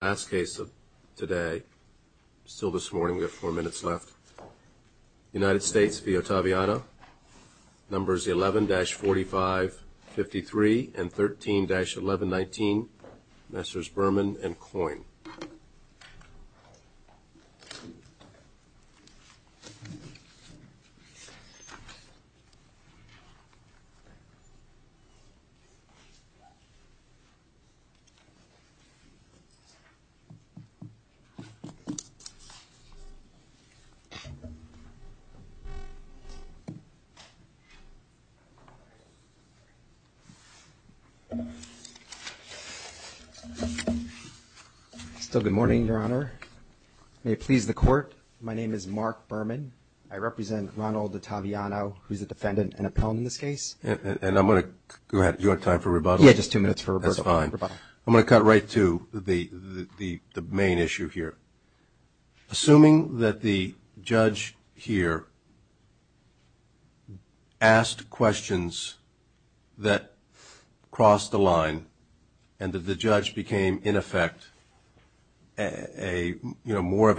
last case of today still this morning we have four minutes left United States v Ottaviano numbers 11-45-53 and 13-11-19 Messrs. Berman and Coyne still good morning your honor may it please the court my name is Mark Berman I represent Ronald Ottaviano who's a defendant and appellant in this case and I'm gonna go ahead you want time for rebuttal I'm gonna cut right to the the main issue here assuming that the judge here asked questions that crossed the line and that the judge became in effect a you know more of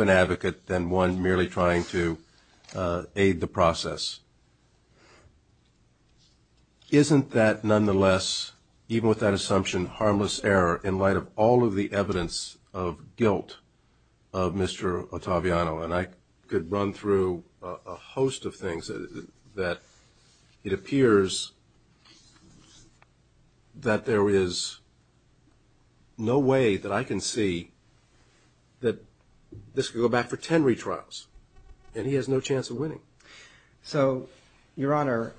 even with that assumption harmless error in light of all of the evidence of guilt of Mr. Ottaviano and I could run through a host of things that it appears that there is no way that I can see that this could go back for 10 retrials and he has no chance of winning so your honor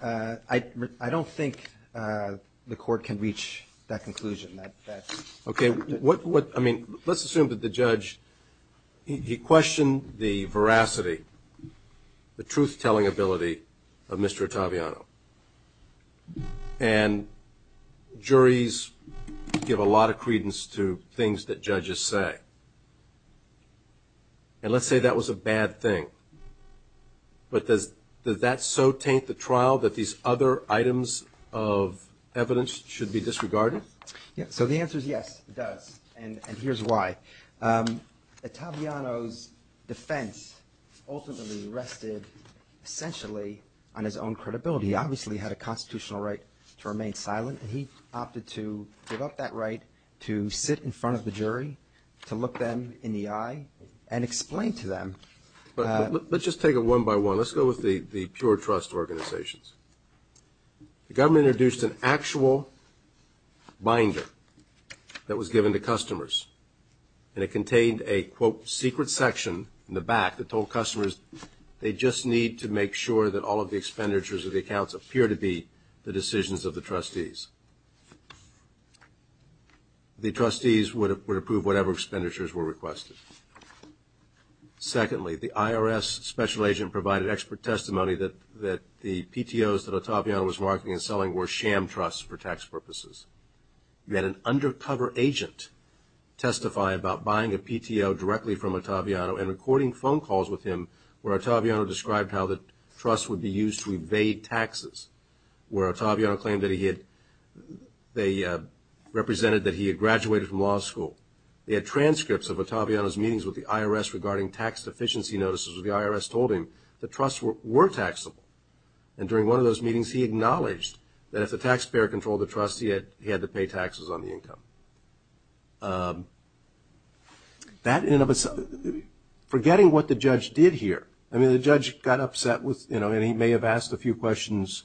I don't think the court can reach that conclusion that okay what what I mean let's assume that the judge he questioned the veracity the truth-telling ability of Mr. Ottaviano and juries give a lot of credence to things that judges say and let's say that was a bad thing but does does that so taint the trial that these other items of evidence should be disregarded yeah so the answer is yes it does and and here's why Ottaviano's defense ultimately rested essentially on his own credibility he obviously had a constitutional right to remain silent and he opted to give up that right to sit in front of the jury to look them in the eye and explain to them but let's just take it one by one let's go with the pure trust organizations the government introduced an actual binder that was given to customers and it contained a quote secret section in the back that told customers they just need to make sure that all of the expenditures of the accounts appear to be the decisions of the trustees the trustees would approve whatever expenditures were requested secondly the IRS special agent provided expert testimony that that the PTOs that Ottaviano was marketing and selling were sham trusts for tax purposes you had an undercover agent testify about buying a PTO directly from Ottaviano and recording phone calls with him where Ottaviano described how the trust would be used to evade taxes where Ottaviano claimed that he had they represented that he had graduated from law school they had transcripts of Ottaviano's meetings with the IRS regarding tax deficiency notices the IRS told him the trusts were taxable and during one of those meetings he acknowledged that if the taxpayer controlled the trust he had he had to pay taxes on the income that in of itself forgetting what the judge did here I mean the judge got upset with you know and he may have asked a few questions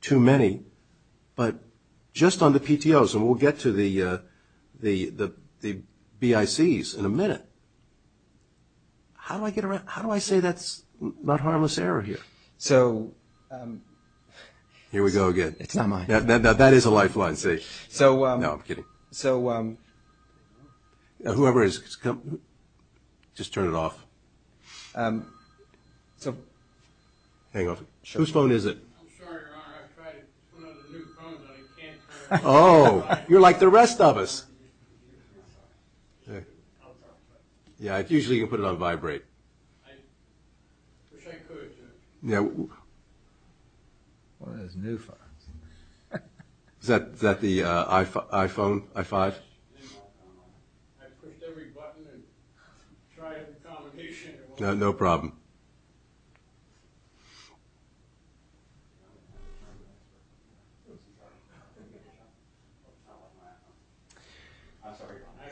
too many but just on the PTOs and we'll get to the the the BICs in a minute how do I get around how do I say that's not harmless error here so um here we go again it's not mine that that that is a lifeline see so um no I'm kidding so um whoever is come just turn it off um so hang on whose phone is it oh you're like the rest of us yeah I usually can put it on vibrate I wish I could yeah well there's new phones is that that the uh iphone i5 I pushed every button and tried a combination no problem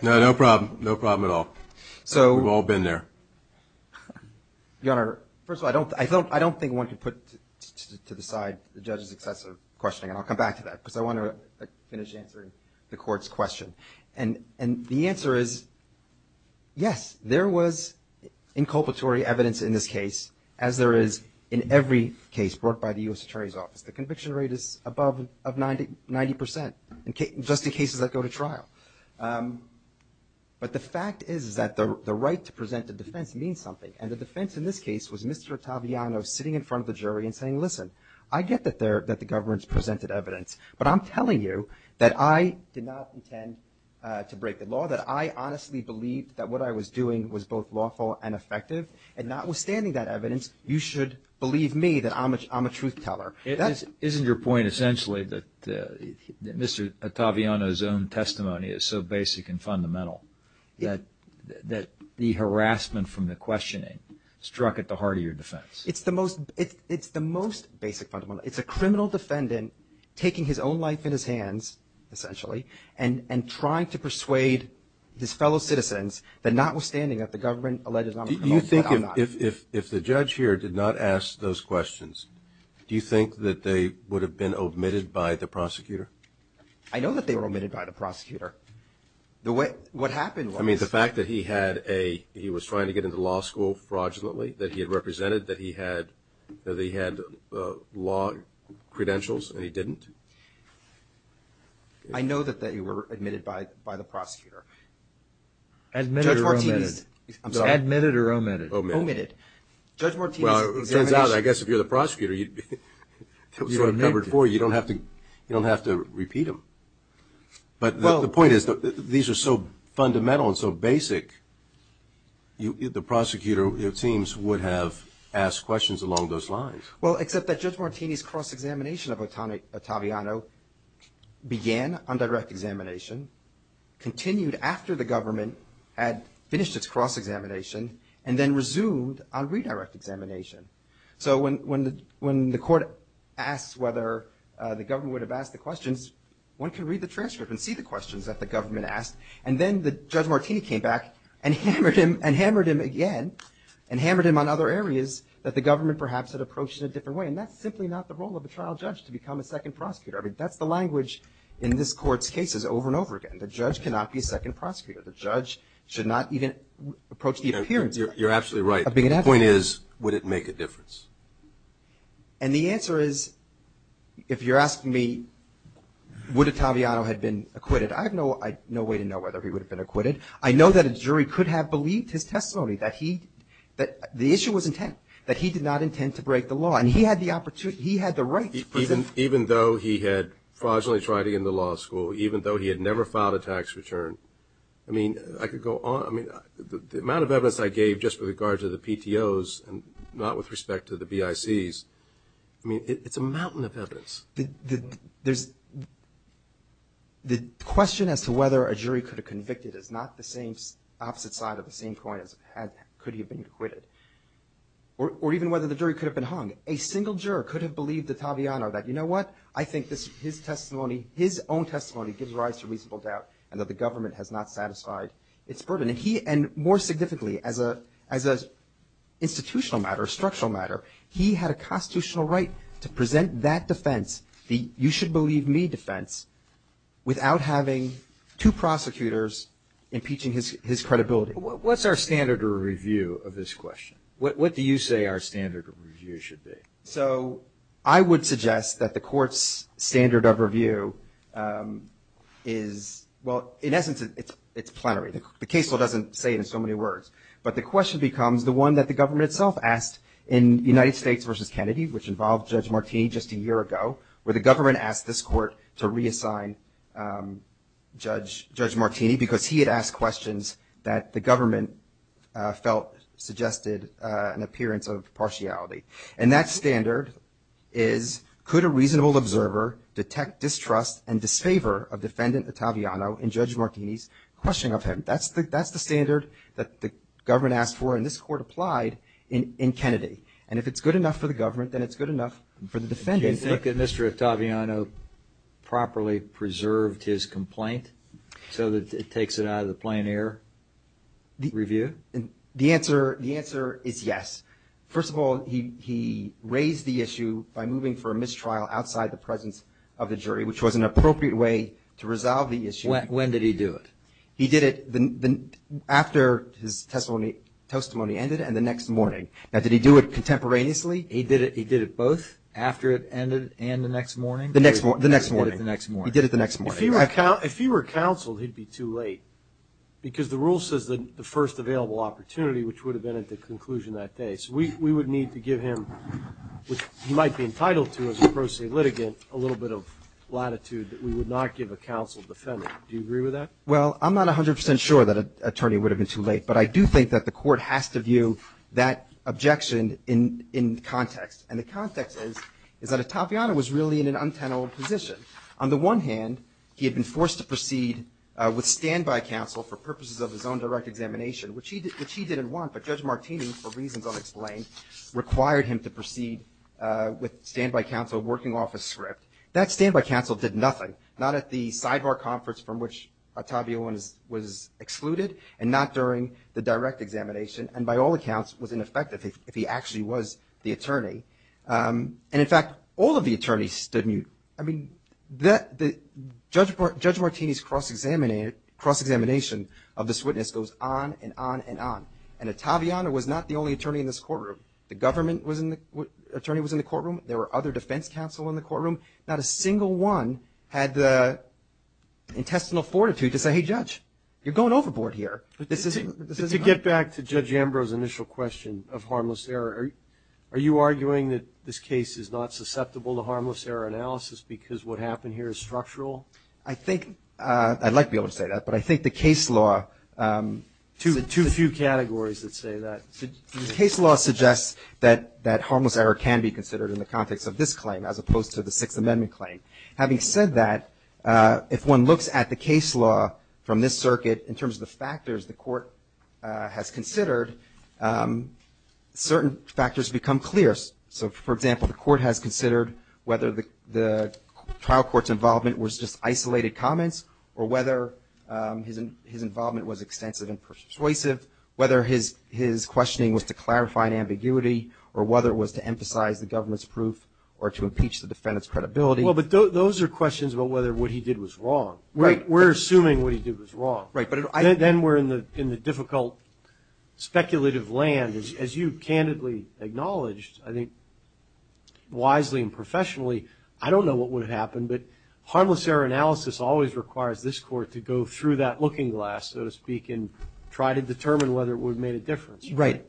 no problem no problem at all so we've all been there your honor first of all I don't I don't think one could put to the side the judge's excessive questioning and I'll come back to that because I want to finish answering the court's question and and the answer is yes there was inculpatory evidence in this case as there is in any other case in this case in every case brought by the U.S. attorney's office the conviction rate is above of 90 percent in just in cases that go to trial um but the fact is is that the the right to present the defense means something and the defense in this case was Mr. Ottaviano sitting in front of the jury and saying listen I get that there that the government's presented evidence but I'm telling you that I did not intend uh to break the law that I honestly believed that what I was doing was both lawful and effective and notwithstanding that evidence you should believe me that I'm a I'm a truth teller that's isn't your point essentially that Mr. Ottaviano's own testimony is so basic and fundamental that that the harassment from the questioning struck at the heart of your defense it's the most it's the most basic fundamental it's a criminal defendant taking his own life in his hands essentially and and trying to persuade his fellow citizens that notwithstanding that the government allegedly you think if if the judge here did not ask those questions do you think that they would have been omitted by the prosecutor I know that they were omitted by the prosecutor the way what happened I mean the fact that he had a he was trying to get into law school fraudulently that he had represented that he had that he had law credentials and he didn't I know that that you were admitted by by the prosecutor admitted admitted or omitted omitted judge martinez turns out I guess if you're the prosecutor you'd be covered for you don't have to you don't have to repeat them but the point is that these are so fundamental and so basic you the prosecutor it seems would have asked questions along those lines well except that judge martinez cross-examination of Otaviano began on direct examination continued after the government had finished its cross-examination and then resumed on redirect examination so when when the when the court asks whether the government would have asked the questions one can read the transcript and see the questions that the government asked and then the judge martinez came back and hammered him and hammered him again and hammered him on other areas that the government perhaps had approached in a different way and that's simply not the role of a trial judge to become a second prosecutor I mean that's the language in this court's cases over and over again the judge cannot be second prosecutor the judge should not even approach the appearance you're you're absolutely right the point is would it make a difference and the answer is if you're asking me would Otaviano had been acquitted I have no I no way to know whether he would have been acquitted I know that a jury could have believed his testimony that he that the issue was intent that he did not intend to break the law and he had the opportunity he had the right even even though he had fraudulently tried to get into law school even though he had never filed a tax return I mean I could go on I mean the amount of evidence I gave just with regards to the PTOs and not with respect to the BICs I mean it's a mountain of evidence the there's the question as to whether a jury could have convicted is not the same opposite side of the same coin as had could he have been acquitted or even whether the jury could have been hung a single juror could have believed Otaviano that you know what I think this his testimony his own testimony gives rise to reasonable doubt and that the government has not satisfied its burden and he and more significantly as a as a institutional matter structural matter he had a constitutional right to present that defense the you should believe me defense without having two prosecutors impeaching his his credibility what's our standard review of this question what do you say our standard review should be so I would suggest that the court's standard of review is well in essence it's it's plenary the case law doesn't say in so many words but the question becomes the one that the government itself asked in United States versus Kennedy which involved Judge Martini just a year ago where the government asked this um judge Judge Martini because he had asked questions that the government uh felt suggested uh an appearance of partiality and that standard is could a reasonable observer detect distrust and disfavor of defendant Otaviano in Judge Martini's questioning of him that's the that's the standard that the government asked for and this court applied in in Kennedy and if it's good enough for the government then it's good enough for the defendant you think that Mr. Otaviano properly preserved his complaint so that it takes it out of the plenary review and the answer the answer is yes first of all he he raised the issue by moving for a mistrial outside the presence of the jury which was an appropriate way to resolve the issue when did he do it he did it after his testimony testimony ended and the next morning now did he do it contemporaneously he did it he did it both after it ended and the next morning the next one the next morning the next morning he did it the next morning if he were counseled he'd be too late because the rule says that the first available opportunity which would have been at the conclusion that day so we we would need to give him which he might be entitled to as a pro se litigant a little bit of latitude that we would not give a counsel defendant do you agree with that well i'm not 100 sure that an attorney would have been too late but i do think that the court has to view that objection in in context and the context is is that otaviano was really in an untenable position on the one hand he had been forced to proceed uh with standby counsel for purposes of his own direct examination which he which he didn't want but judge martini for reasons unexplained required him to proceed uh with standby counsel working off a script that standby counsel did nothing not at the sidebar conference from which otavio was excluded and not during the direct examination and by all was the attorney um and in fact all of the attorneys stood mute i mean that the judge martini's cross-examination cross-examination of this witness goes on and on and on and otaviano was not the only attorney in this courtroom the government was in the attorney was in the courtroom there were other defense counsel in the courtroom not a single one had the intestinal fortitude to say hey judge you're going overboard here but this isn't this is to get back to judge ambrose initial question of harmless error are you arguing that this case is not susceptible to harmless error analysis because what happened here is structural i think uh i'd like to be able to say that but i think the case law um to the two few categories that say that the case law suggests that that harmless error can be considered in the context of this claim as opposed to the sixth amendment claim having said that uh if one looks at the case law from this circuit in terms of the factors the certain factors become clear so for example the court has considered whether the the trial court's involvement was just isolated comments or whether um his involvement was extensive and persuasive whether his his questioning was to clarify an ambiguity or whether it was to emphasize the government's proof or to impeach the defendant's credibility well but those are questions about whether what he did was wrong right we're assuming what he did was wrong right but then we're in the in the difficult speculative land as you candidly acknowledged i think wisely and professionally i don't know what would happen but harmless error analysis always requires this court to go through that looking glass so to speak and try to determine whether it would make a difference right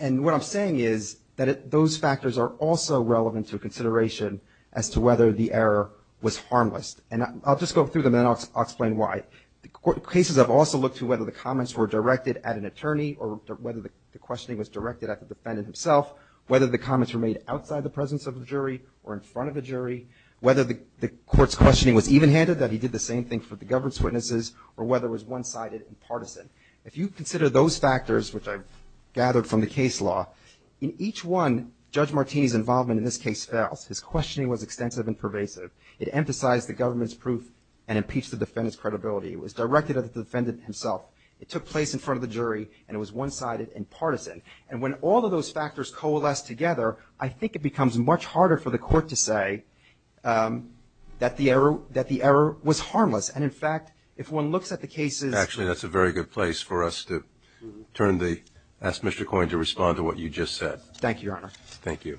and what i'm saying is that those factors are also relevant to consideration as to whether the error was harmless and i'll just go through them and i'll explain why the court cases i've also looked to whether the comments were directed at an attorney or whether the questioning was directed at the defendant himself whether the comments were made outside the presence of the jury or in front of the jury whether the court's questioning was even-handed that he did the same thing for the government's witnesses or whether it was one-sided and partisan if you consider those factors which i've gathered from the case law in each one judge martini's involvement in this case fails his questioning was extensive and pervasive it emphasized the government's proof and impeached the defendant's credibility it was directed at the defendant himself it took place in front of the jury and it was one-sided and partisan and when all of those factors coalesce together i think it becomes much harder for the court to say um that the error that the error was harmless and in fact if one looks at the cases actually that's a very good place for us to turn the ask mr coin to respond to what you just said thank you your honor thank you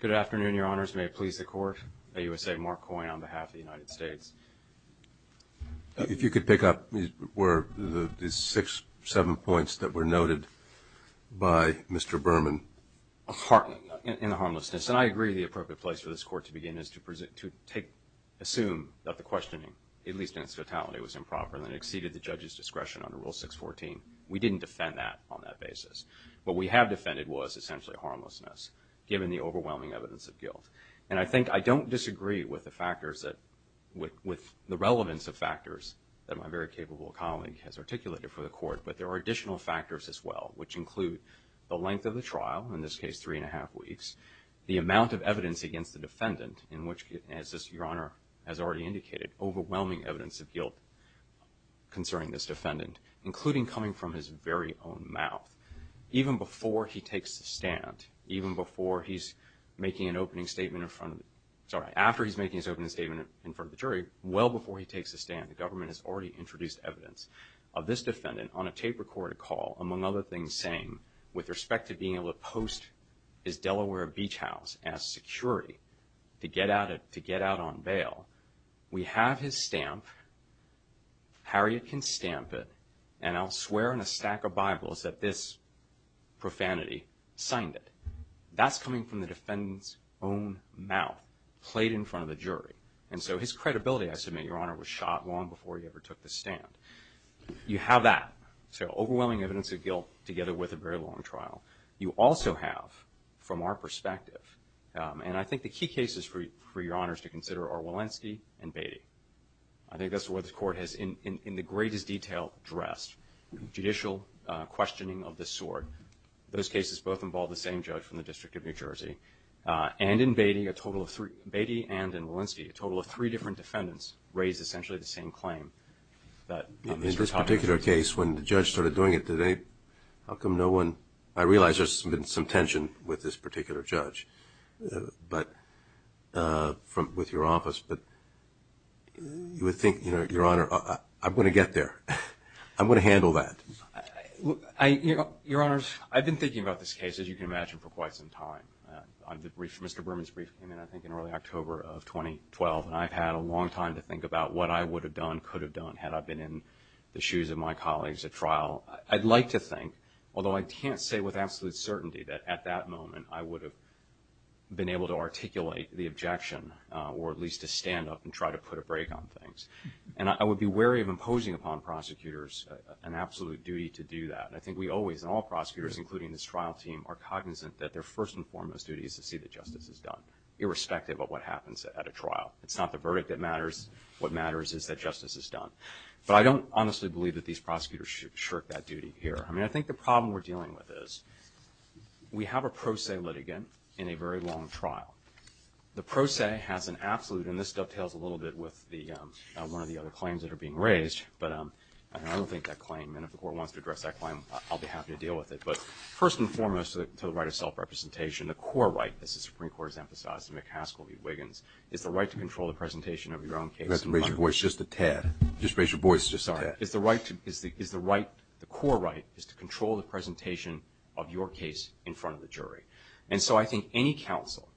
good afternoon your honors may it please the court a usa mark coin on behalf of the united states if you could pick up these were the six seven points that were noted by mr burman in the harmlessness and i agree the appropriate place for this court to begin is to present to take assume that the questioning at least in its fatality was improper and it exceeded the judge's discretion under rule 614 we didn't defend that on that basis what we have defended was essentially harmlessness given the overwhelming evidence of guilt and i think i don't disagree with the factors that with with the relevance of factors that my very capable colleague has which include the length of the trial in this case three and a half weeks the amount of evidence against the defendant in which as this your honor has already indicated overwhelming evidence of guilt concerning this defendant including coming from his very own mouth even before he takes the stand even before he's making an opening statement in front of sorry after he's making his opening statement in front of the jury well before he takes a stand the government has already introduced evidence of this defendant on a tape recorded call among other things saying with respect to being able to post his delaware beach house as security to get out of to get out on bail we have his stamp harriet can stamp it and i'll swear in a stack of bibles that this profanity signed it that's coming from the defendant's own mouth played in front of the you have that so overwhelming evidence of guilt together with a very long trial you also have from our perspective and i think the key cases for for your honors to consider are walensky and baity i think that's where the court has in in the greatest detail dressed judicial uh questioning of this sort those cases both involve the same judge from the district of new jersey uh and in baity a total of three baity and in walensky a total of three different defendants raised essentially the same claim that in this particular case when the judge started doing it today how come no one i realize there's been some tension with this particular judge but uh from with your office but you would think you know your honor i'm going to get there i'm going to handle that i you know your honors i've been thinking about this case as you can imagine for quite some time on the brief mr burman's brief came in i think in early october of 2012 and i've had a long time to think about what i would have done could have done had i been in the shoes of my colleagues at trial i'd like to think although i can't say with absolute certainty that at that moment i would have been able to articulate the objection or at least to stand up and try to put a break on things and i would be wary of imposing upon prosecutors an absolute duty to do that i think we always in all prosecutors including this trial team are cognizant that their first and foremost duty is to see that justice is done irrespective of what at a trial it's not the verdict that matters what matters is that justice is done but i don't honestly believe that these prosecutors should shirk that duty here i mean i think the problem we're dealing with is we have a pro se litigant in a very long trial the pro se has an absolute and this dovetails a little bit with the um one of the other claims that are being raised but um and i don't think that claim and if the court wants to address that claim i'll be happy to deal with it but first and foremost to the right of self-representation the core right the supreme court has emphasized mccaskill v wiggins is the right to control the presentation of your own case let's raise your voice just a tad just raise your voice just sorry is the right is the is the right the core right is to control the presentation of your case in front of the jury and so i think any council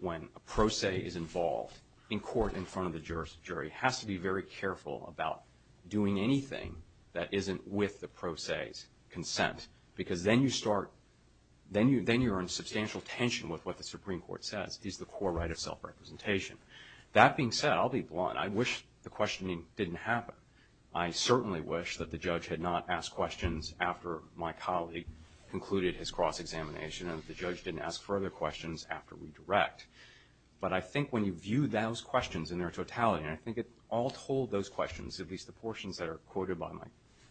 when a pro se is involved in court in front of the jurist jury has to be very careful about doing anything that isn't with the pro se's consent because then you start then you then you're in substantial tension with what the supreme court says is the core right of self-representation that being said i'll be blunt i wish the questioning didn't happen i certainly wish that the judge had not asked questions after my colleague concluded his cross-examination and the judge didn't ask further questions after we direct but i think when you view those questions in their totality and i think it all told those questions at least the portions that are quoted by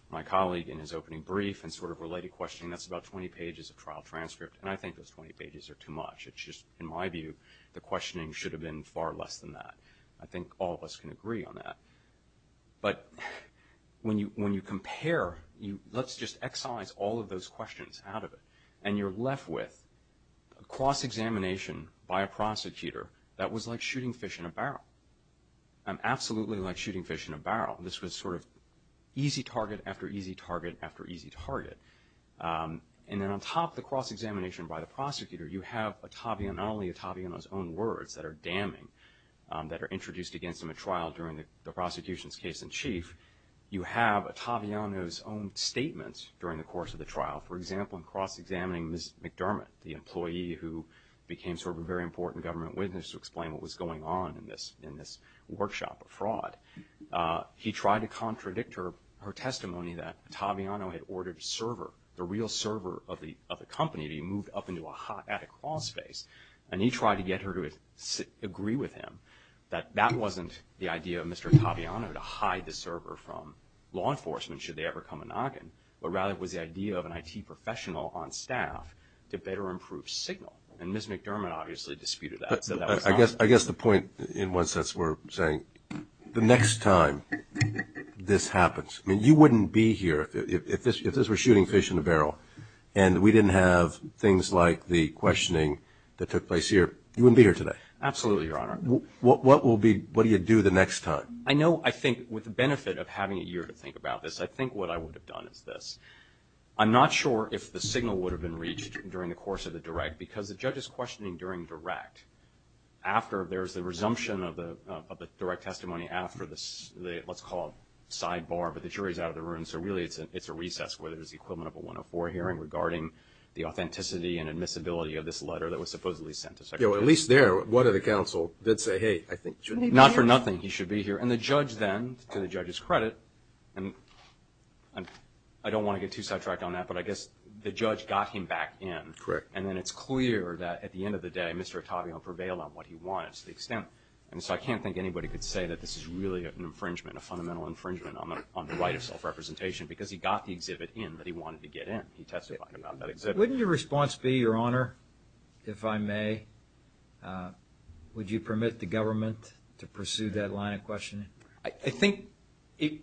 my colleague in his opening brief and sort of related questioning that's about 20 pages of trial transcript and i think those 20 pages are too much it's just in my view the questioning should have been far less than that i think all of us can agree on that but when you when you compare you let's just excise all of those questions out of it and you're left with a cross-examination by a prosecutor that was like shooting fish in a barrel i'm absolutely like shooting fish in a barrel this was sort of easy target after easy target after easy target and then on top of the cross-examination by the prosecutor you have atavia not only ataviana's own words that are damning that are introduced against him at trial during the prosecution's case in chief you have ataviano's own statements during the course of the trial for example in cross-examining miss mcdermott the employee who became sort of a very important government witness to explain what was going on in this in this workshop of fraud uh he tried to contradict her her testimony that ataviano had ordered server the real server of the of the company he moved up into a hot attic law space and he tried to get her to agree with him that that wasn't the idea of mr ataviano to hide the server from law enforcement should they ever come a noggin but rather it was the idea of an it professional on staff to better improve signal and miss mcdermott obviously disputed that i guess i guess the point in one sense we're saying the next time this happens i mean you wouldn't be here if this if this were shooting fish in a barrel and we didn't have things like the questioning that took place here you wouldn't be here today absolutely your honor what what will be what do you do the next time i know i think with the benefit of having a year to think about this i think what i would have done is this i'm not sure if the signal would have been reached during the course of the direct because the judge is questioning during direct after there's the resumption of the of the direct testimony after the let's call it sidebar but the jury's out of the room so really it's a it's a recess where there's the equivalent of a 104 hearing regarding the authenticity and admissibility of this letter that was supposedly sent to secretary at least there one of the council did say hey i think not for nothing he should be here and the judge then to the judge's credit and i don't want to get too sidetracked on that but i guess the judge got him back in correct and then it's clear that at the end of the day mr ottavio prevailed on what he wanted to the extent and so i can't think anybody could say that this is really an infringement a fundamental infringement on the on the right of self-representation because he got the exhibit in that he wanted to get in he testified about that exhibit wouldn't your response be your honor if i may uh would you permit the government to pursue that line of questioning i think it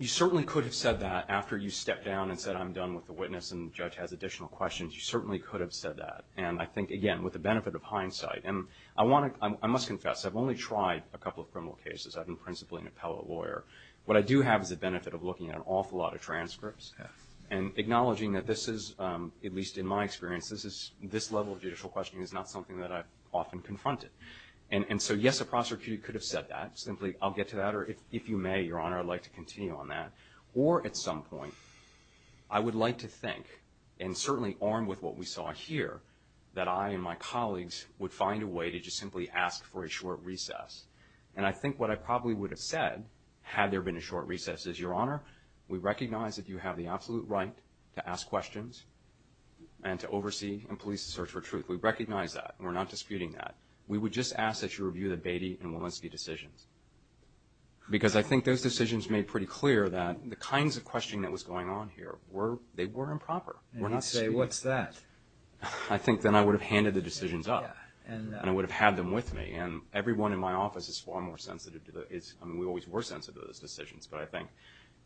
you certainly could have after you stepped down and said i'm done with the witness and judge has additional questions you certainly could have said that and i think again with the benefit of hindsight and i want to i must confess i've only tried a couple of criminal cases i've been principally an appellate lawyer what i do have is the benefit of looking at an awful lot of transcripts and acknowledging that this is um at least in my experience this is this level of judicial questioning is not something that i've often confronted and and so yes a prosecutor could have said that simply i'll some point i would like to think and certainly armed with what we saw here that i and my colleagues would find a way to just simply ask for a short recess and i think what i probably would have said had there been a short recess is your honor we recognize that you have the absolute right to ask questions and to oversee and police the search for truth we recognize that we're not disputing that we would just ask that you review the Beatty and Walensky decisions because i think those decisions made pretty clear that the kinds of questioning that was going on here were they were improper we're not say what's that i think then i would have handed the decisions up and i would have had them with me and everyone in my office is far more sensitive to the is i mean we always were sensitive to those decisions but i think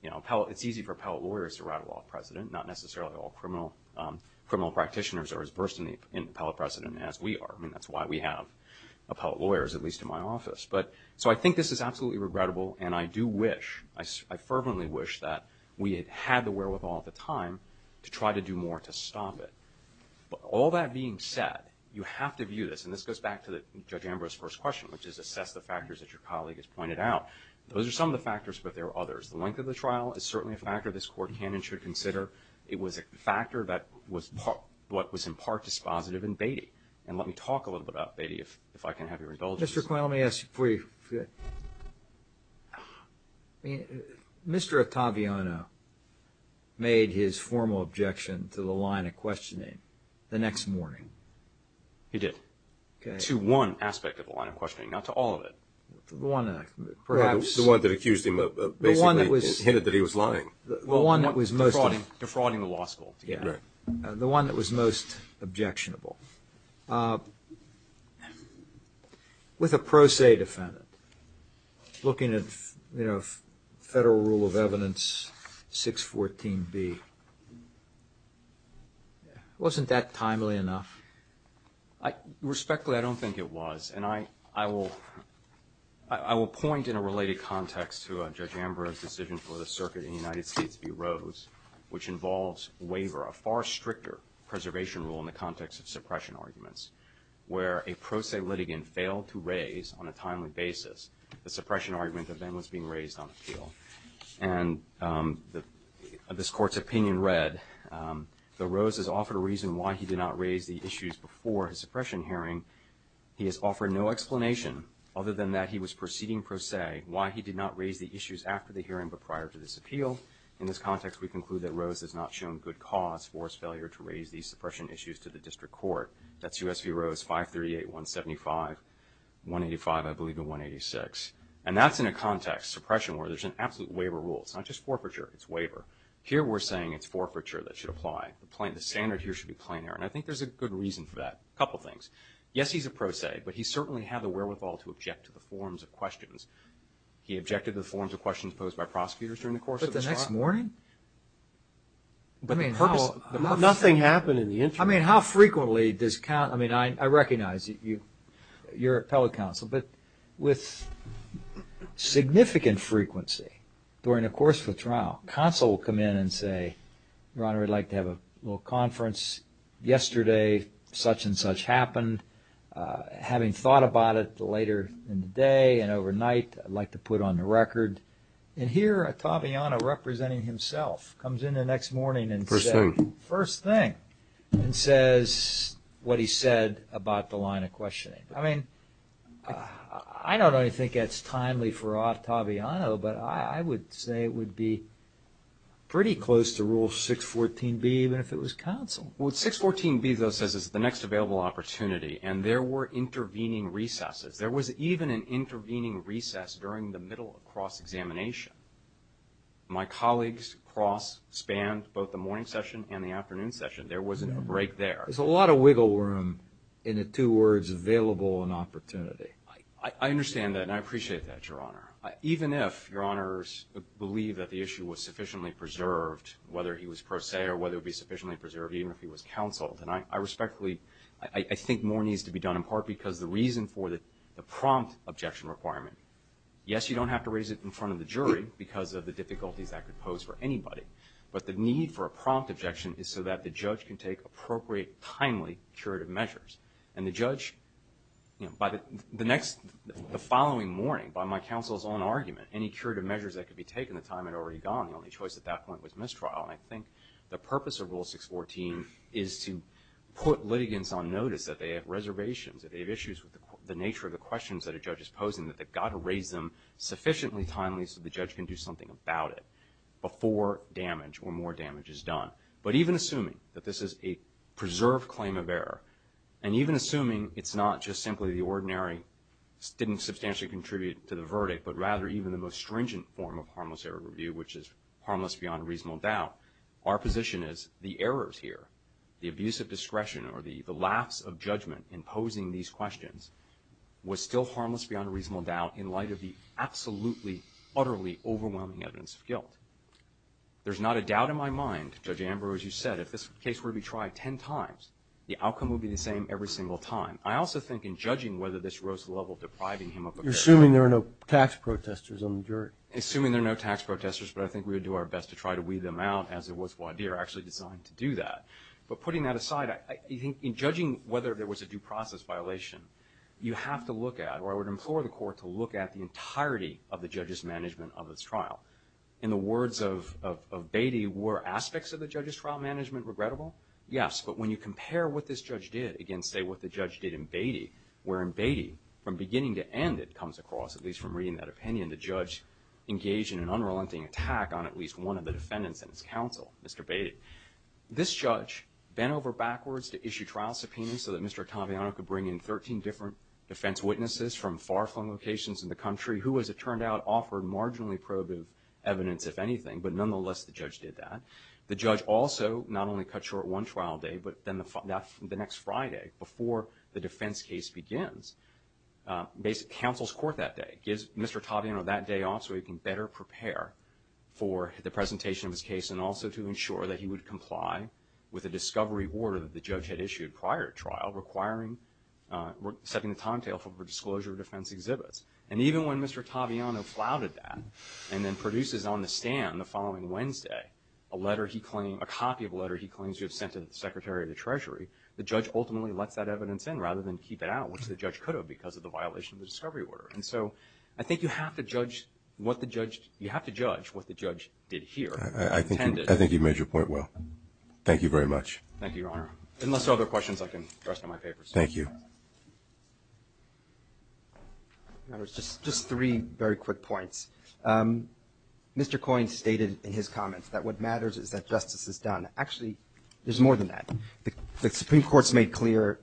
you know it's easy for appellate lawyers to rattle off precedent not necessarily all criminal um criminal practitioners are as versed in the appellate precedent as we are i mean that's why we have appellate lawyers at my office but so i think this is absolutely regrettable and i do wish i i fervently wish that we had had the wherewithal at the time to try to do more to stop it but all that being said you have to view this and this goes back to the judge ambrose first question which is assess the factors that your colleague has pointed out those are some of the factors but there are others the length of the trial is certainly a factor this court canon should consider it was a factor that was what was in part dispositive in Beatty and let me talk a little bit about Beatty if if i can have your indulgence let me ask you before you i mean Mr. Ottaviano made his formal objection to the line of questioning the next morning he did okay to one aspect of the line of questioning not to all of it the one perhaps the one that accused him of basically hinted that he was lying the one that was most defrauding defrauding the law school yeah the one that was most objectionable with a pro se defendant looking at you know federal rule of evidence 614 b wasn't that timely enough i respectfully i don't think it was and i i will i will point in a related context to judge ambrose decision for the circuit in the united states bureaus which involves waiver a far stricter preservation rule in the context of suppression arguments where a pro se litigant failed to raise on a timely basis the suppression argument event was being raised on appeal and the this court's opinion read the rose has offered a reason why he did not raise the issues before his suppression hearing he has offered no explanation other than that he was proceeding pro se why he did not raise the issues after the hearing but prior to this appeal in this context we conclude that rose has not shown good cause for his failure to raise these suppression issues to the district court that's usv rose 538 175 185 i believe in 186 and that's in a context suppression where there's an absolute waiver rule it's not just forfeiture it's waiver here we're saying it's forfeiture that should apply the standard here should be plain air and i think there's a good reason for that a couple things yes he's a pro se but he certainly had the wherewithal to object to the forms of questions he objected the forms of questions posed by prosecutors during the next morning but i mean nothing happened in the interim i mean how frequently does count i mean i i recognize you you're appellate counsel but with significant frequency during the course of a trial counsel will come in and say ron we'd like to have a little conference yesterday such and such happened uh having thought about it later in the day and overnight i'd like to put on the representing himself comes in the next morning and first thing first thing and says what he said about the line of questioning i mean i don't really think it's timely for octavia no but i would say it would be pretty close to rule 614 b even if it was counsel with 614 b though says it's the next available opportunity and there were intervening recesses there was even an my colleagues cross spanned both the morning session and the afternoon session there wasn't a break there there's a lot of wiggle room in the two words available and opportunity i i understand that and i appreciate that your honor even if your honors believe that the issue was sufficiently preserved whether he was pro se or whether it would be sufficiently preserved even if he was counseled and i i respectfully i i think more needs to be done in part because the reason for the the prompt objection requirement yes you don't have to raise it in front of the jury because of the difficulties that could pose for anybody but the need for a prompt objection is so that the judge can take appropriate timely curative measures and the judge you know by the the next the following morning by my counsel's own argument any curative measures that could be taken the time had already gone the only choice at that point was mistrial and i think the purpose of rule 614 is to put litigants on notice that they have reservations that they have issues with the nature of the questions that a judge is posing that they've got to raise them sufficiently timely so the judge can do something about it before damage or more damage is done but even assuming that this is a preserved claim of error and even assuming it's not just simply the ordinary didn't substantially contribute to the verdict but rather even the most stringent form of harmless error review which is harmless beyond reasonable doubt our position is the errors here the abuse of discretion or the the laughs of judgment in posing these questions was still harmless beyond reasonable doubt in light of the absolutely utterly overwhelming evidence of guilt there's not a doubt in my mind judge amber as you said if this case were to be tried 10 times the outcome would be the same every single time i also think in judging whether this rose level depriving him of assuming there are no tax protesters on the jury assuming there are no tax protesters but i think we would do our best to try to weed them out as it was wadir actually designed to do that but putting that aside i think in judging whether there was a due process violation you have to look at or i would implore the court to look at the entirety of the judge's management of this trial in the words of of baity were aspects of the judge's trial management regrettable yes but when you compare what this judge did again say what the judge did in baity wherein baity from beginning to end it comes across at least from reading that opinion the judge engaged in an unrelenting attack on at least one of the defendants in his counsel mr baity this judge bent over backwards to issue trial subpoenas so that mr taviano could bring in 13 different defense witnesses from far-flung locations in the country who as it turned out offered marginally probative evidence if anything but nonetheless the judge did that the judge also not only cut short one trial day but then the next friday before the defense case begins uh basic counsel's court that day gives mr taviano that day off so he can better prepare for the presentation of his and also to ensure that he would comply with a discovery order that the judge had issued prior trial requiring uh setting the timetable for disclosure of defense exhibits and even when mr taviano flouted that and then produces on the stand the following wednesday a letter he claimed a copy of a letter he claims to have sent to the secretary of the treasury the judge ultimately lets that evidence in rather than keep it out which the judge could have because of the violation of the discovery order and so i think you have to judge what the judge you have to judge what the judge did here i think i think you made your point well thank you very much thank you your honor unless there are other questions i can address in my papers thank you now there's just just three very quick points um mr coin stated in his comments that what matters is that justice is done actually there's more than that the supreme court's made clear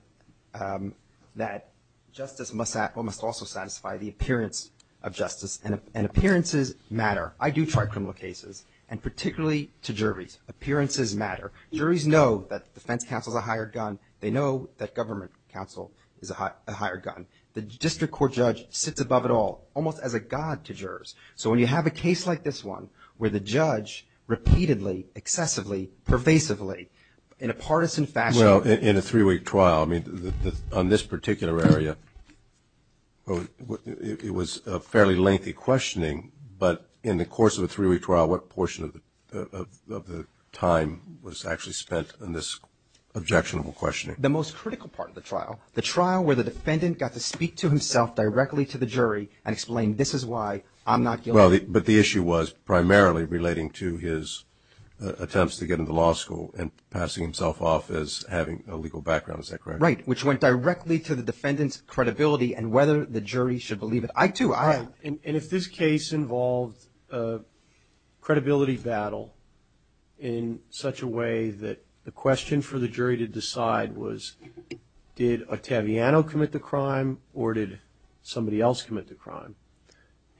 um that justice must act well must also satisfy the appearance of justice and appearances matter i do try criminal cases and particularly to juries appearances matter juries know that defense counsel is a higher gun they know that government counsel is a higher gun the district court judge sits above it all almost as a god to jurors so when you have a case like this one where the judge repeatedly excessively pervasively in a partisan fashion well in a three-week trial on this particular area well it was a fairly lengthy questioning but in the course of a three-week trial what portion of the of the time was actually spent on this objectionable questioning the most critical part of the trial the trial where the defendant got to speak to himself directly to the jury and explained this is why i'm not guilty but the issue was primarily relating to his attempts to get into law school and passing himself off as having a legal background is that right which went directly to the defendant's credibility and whether the jury should believe it i too i and if this case involved a credibility battle in such a way that the question for the jury to decide was did ottaviano commit the crime or did somebody else commit the crime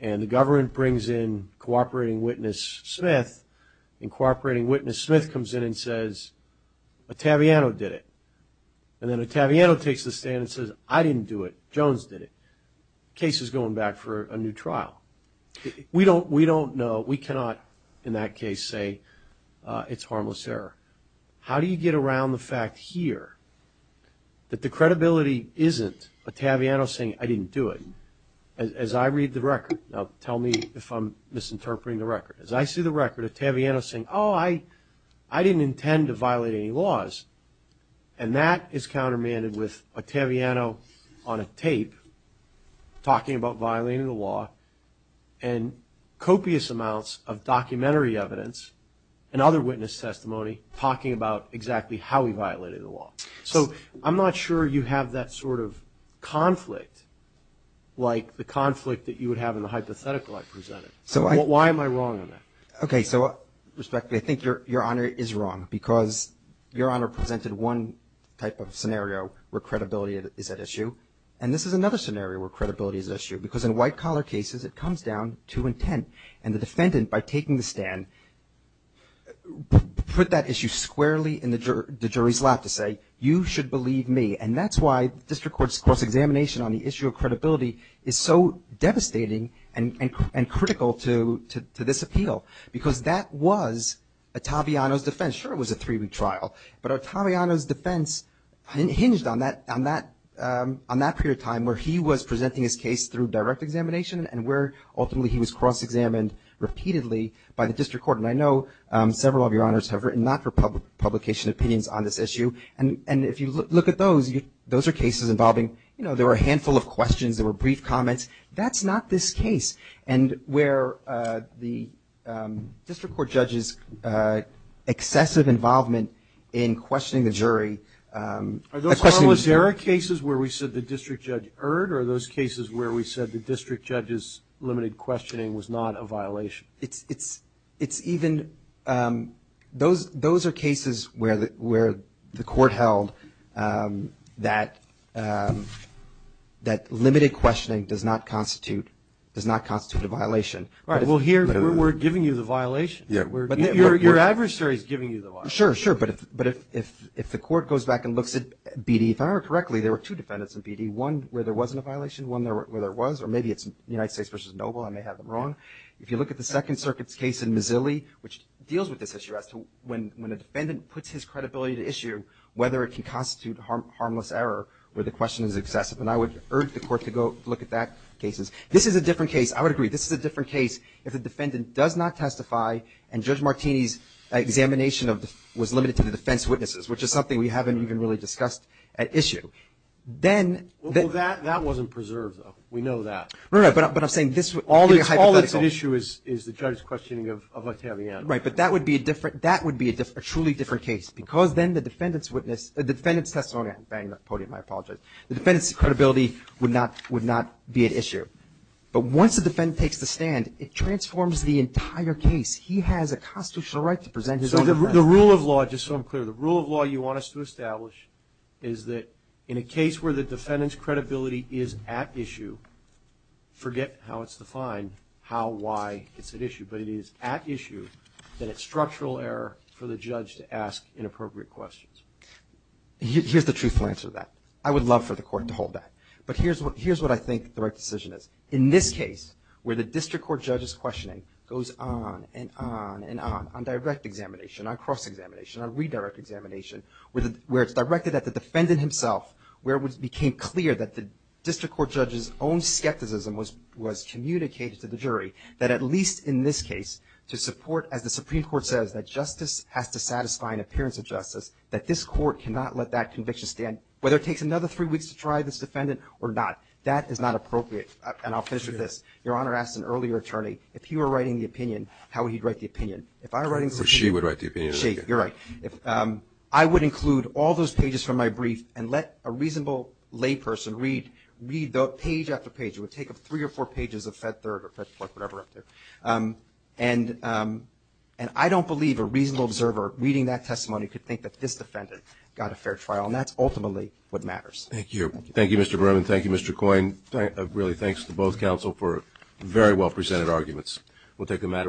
and the government brings in cooperating witness smith and cooperating witness smith comes in and and then ottaviano takes the stand and says i didn't do it jones did it case is going back for a new trial we don't we don't know we cannot in that case say uh it's harmless error how do you get around the fact here that the credibility isn't ottaviano saying i didn't do it as i read the record now tell me if i'm misinterpreting the record as i see the record ottaviano saying oh i i didn't intend to violate any laws and that is countermanded with ottaviano on a tape talking about violating the law and copious amounts of documentary evidence and other witness testimony talking about exactly how he violated the law so i'm not sure you have that sort of conflict like the conflict that you would have in the hypothetical i presented so why am i okay so respectfully i think your your honor is wrong because your honor presented one type of scenario where credibility is at issue and this is another scenario where credibility is an issue because in white collar cases it comes down to intent and the defendant by taking the stand put that issue squarely in the jury's lap to say you should believe me and that's why district court's cross examination on the issue of credibility is so devastating and and critical to to this appeal because that was ottaviano's defense sure it was a three-week trial but ottaviano's defense hinged on that on that um on that period of time where he was presenting his case through direct examination and where ultimately he was cross-examined repeatedly by the district court and i know um several of your honors have written not for public publication opinions on this issue and and if you look at those you those are cases involving you know there were a handful of questions there were brief comments that's not this case and where the um district court judge's uh excessive involvement in questioning the jury um there are cases where we said the district judge erred or those cases where we said the district judge's limited questioning was not a violation it's it's it's even um those those are cases where where the court held um that um that limited questioning does not constitute a violation right well here we're giving you the violation yeah but your adversary is giving you the law sure sure but if but if if if the court goes back and looks at bd if i remember correctly there were two defendants in bd one where there wasn't a violation one there where there was or maybe it's united states versus noble i may have them wrong if you look at the second circuit's case in missilly which deals with this issue as to when when a defendant puts his credibility to issue whether it can constitute harmless error where the question is excessive and i would urge the court to go look at that cases this is a different case i would agree this is a different case if the defendant does not testify and judge martini's examination of the was limited to the defense witnesses which is something we haven't even really discussed at issue then that that wasn't preserved though we know that right but i'm saying this all it's all it's an issue is is the judge's questioning of octavian right but that would be a different that would be a different truly different case because then the defendant's witness the defendant's testimony bang the podium i apologize the defendant's credibility would not would not be at issue but once the defendant takes the stand it transforms the entire case he has a constitutional right to present his own the rule of law just so i'm clear the rule of law you want us to establish is that in a case where the defendant's credibility is at issue forget how it's defined how why it's an issue but it is at issue that it's structural error for the judge to ask inappropriate questions here's the truthful answer that i would love for the court to hold that but here's what here's what i think the right decision is in this case where the district court judge's questioning goes on and on and on on direct examination on cross examination on redirect examination with where it's directed at the defendant himself where it became clear that the district court judge's own skepticism was was communicated to the jury that at least in this to support as the supreme court says that justice has to satisfy an appearance of justice that this court cannot let that conviction stand whether it takes another three weeks to try this defendant or not that is not appropriate and i'll finish with this your honor asked an earlier attorney if he were writing the opinion how he'd write the opinion if i were writing so she would write the opinion shake you're right if um i would include all those pages from my brief and let a reasonable lay person read read the page after page it would take up three or four pages of fed third whatever up there um and um and i don't believe a reasonable observer reading that testimony could think that this defendant got a fair trial and that's ultimately what matters thank you thank you mr brim and thank you mr coin really thanks to both counsel for very well presented arguments we'll take a matter of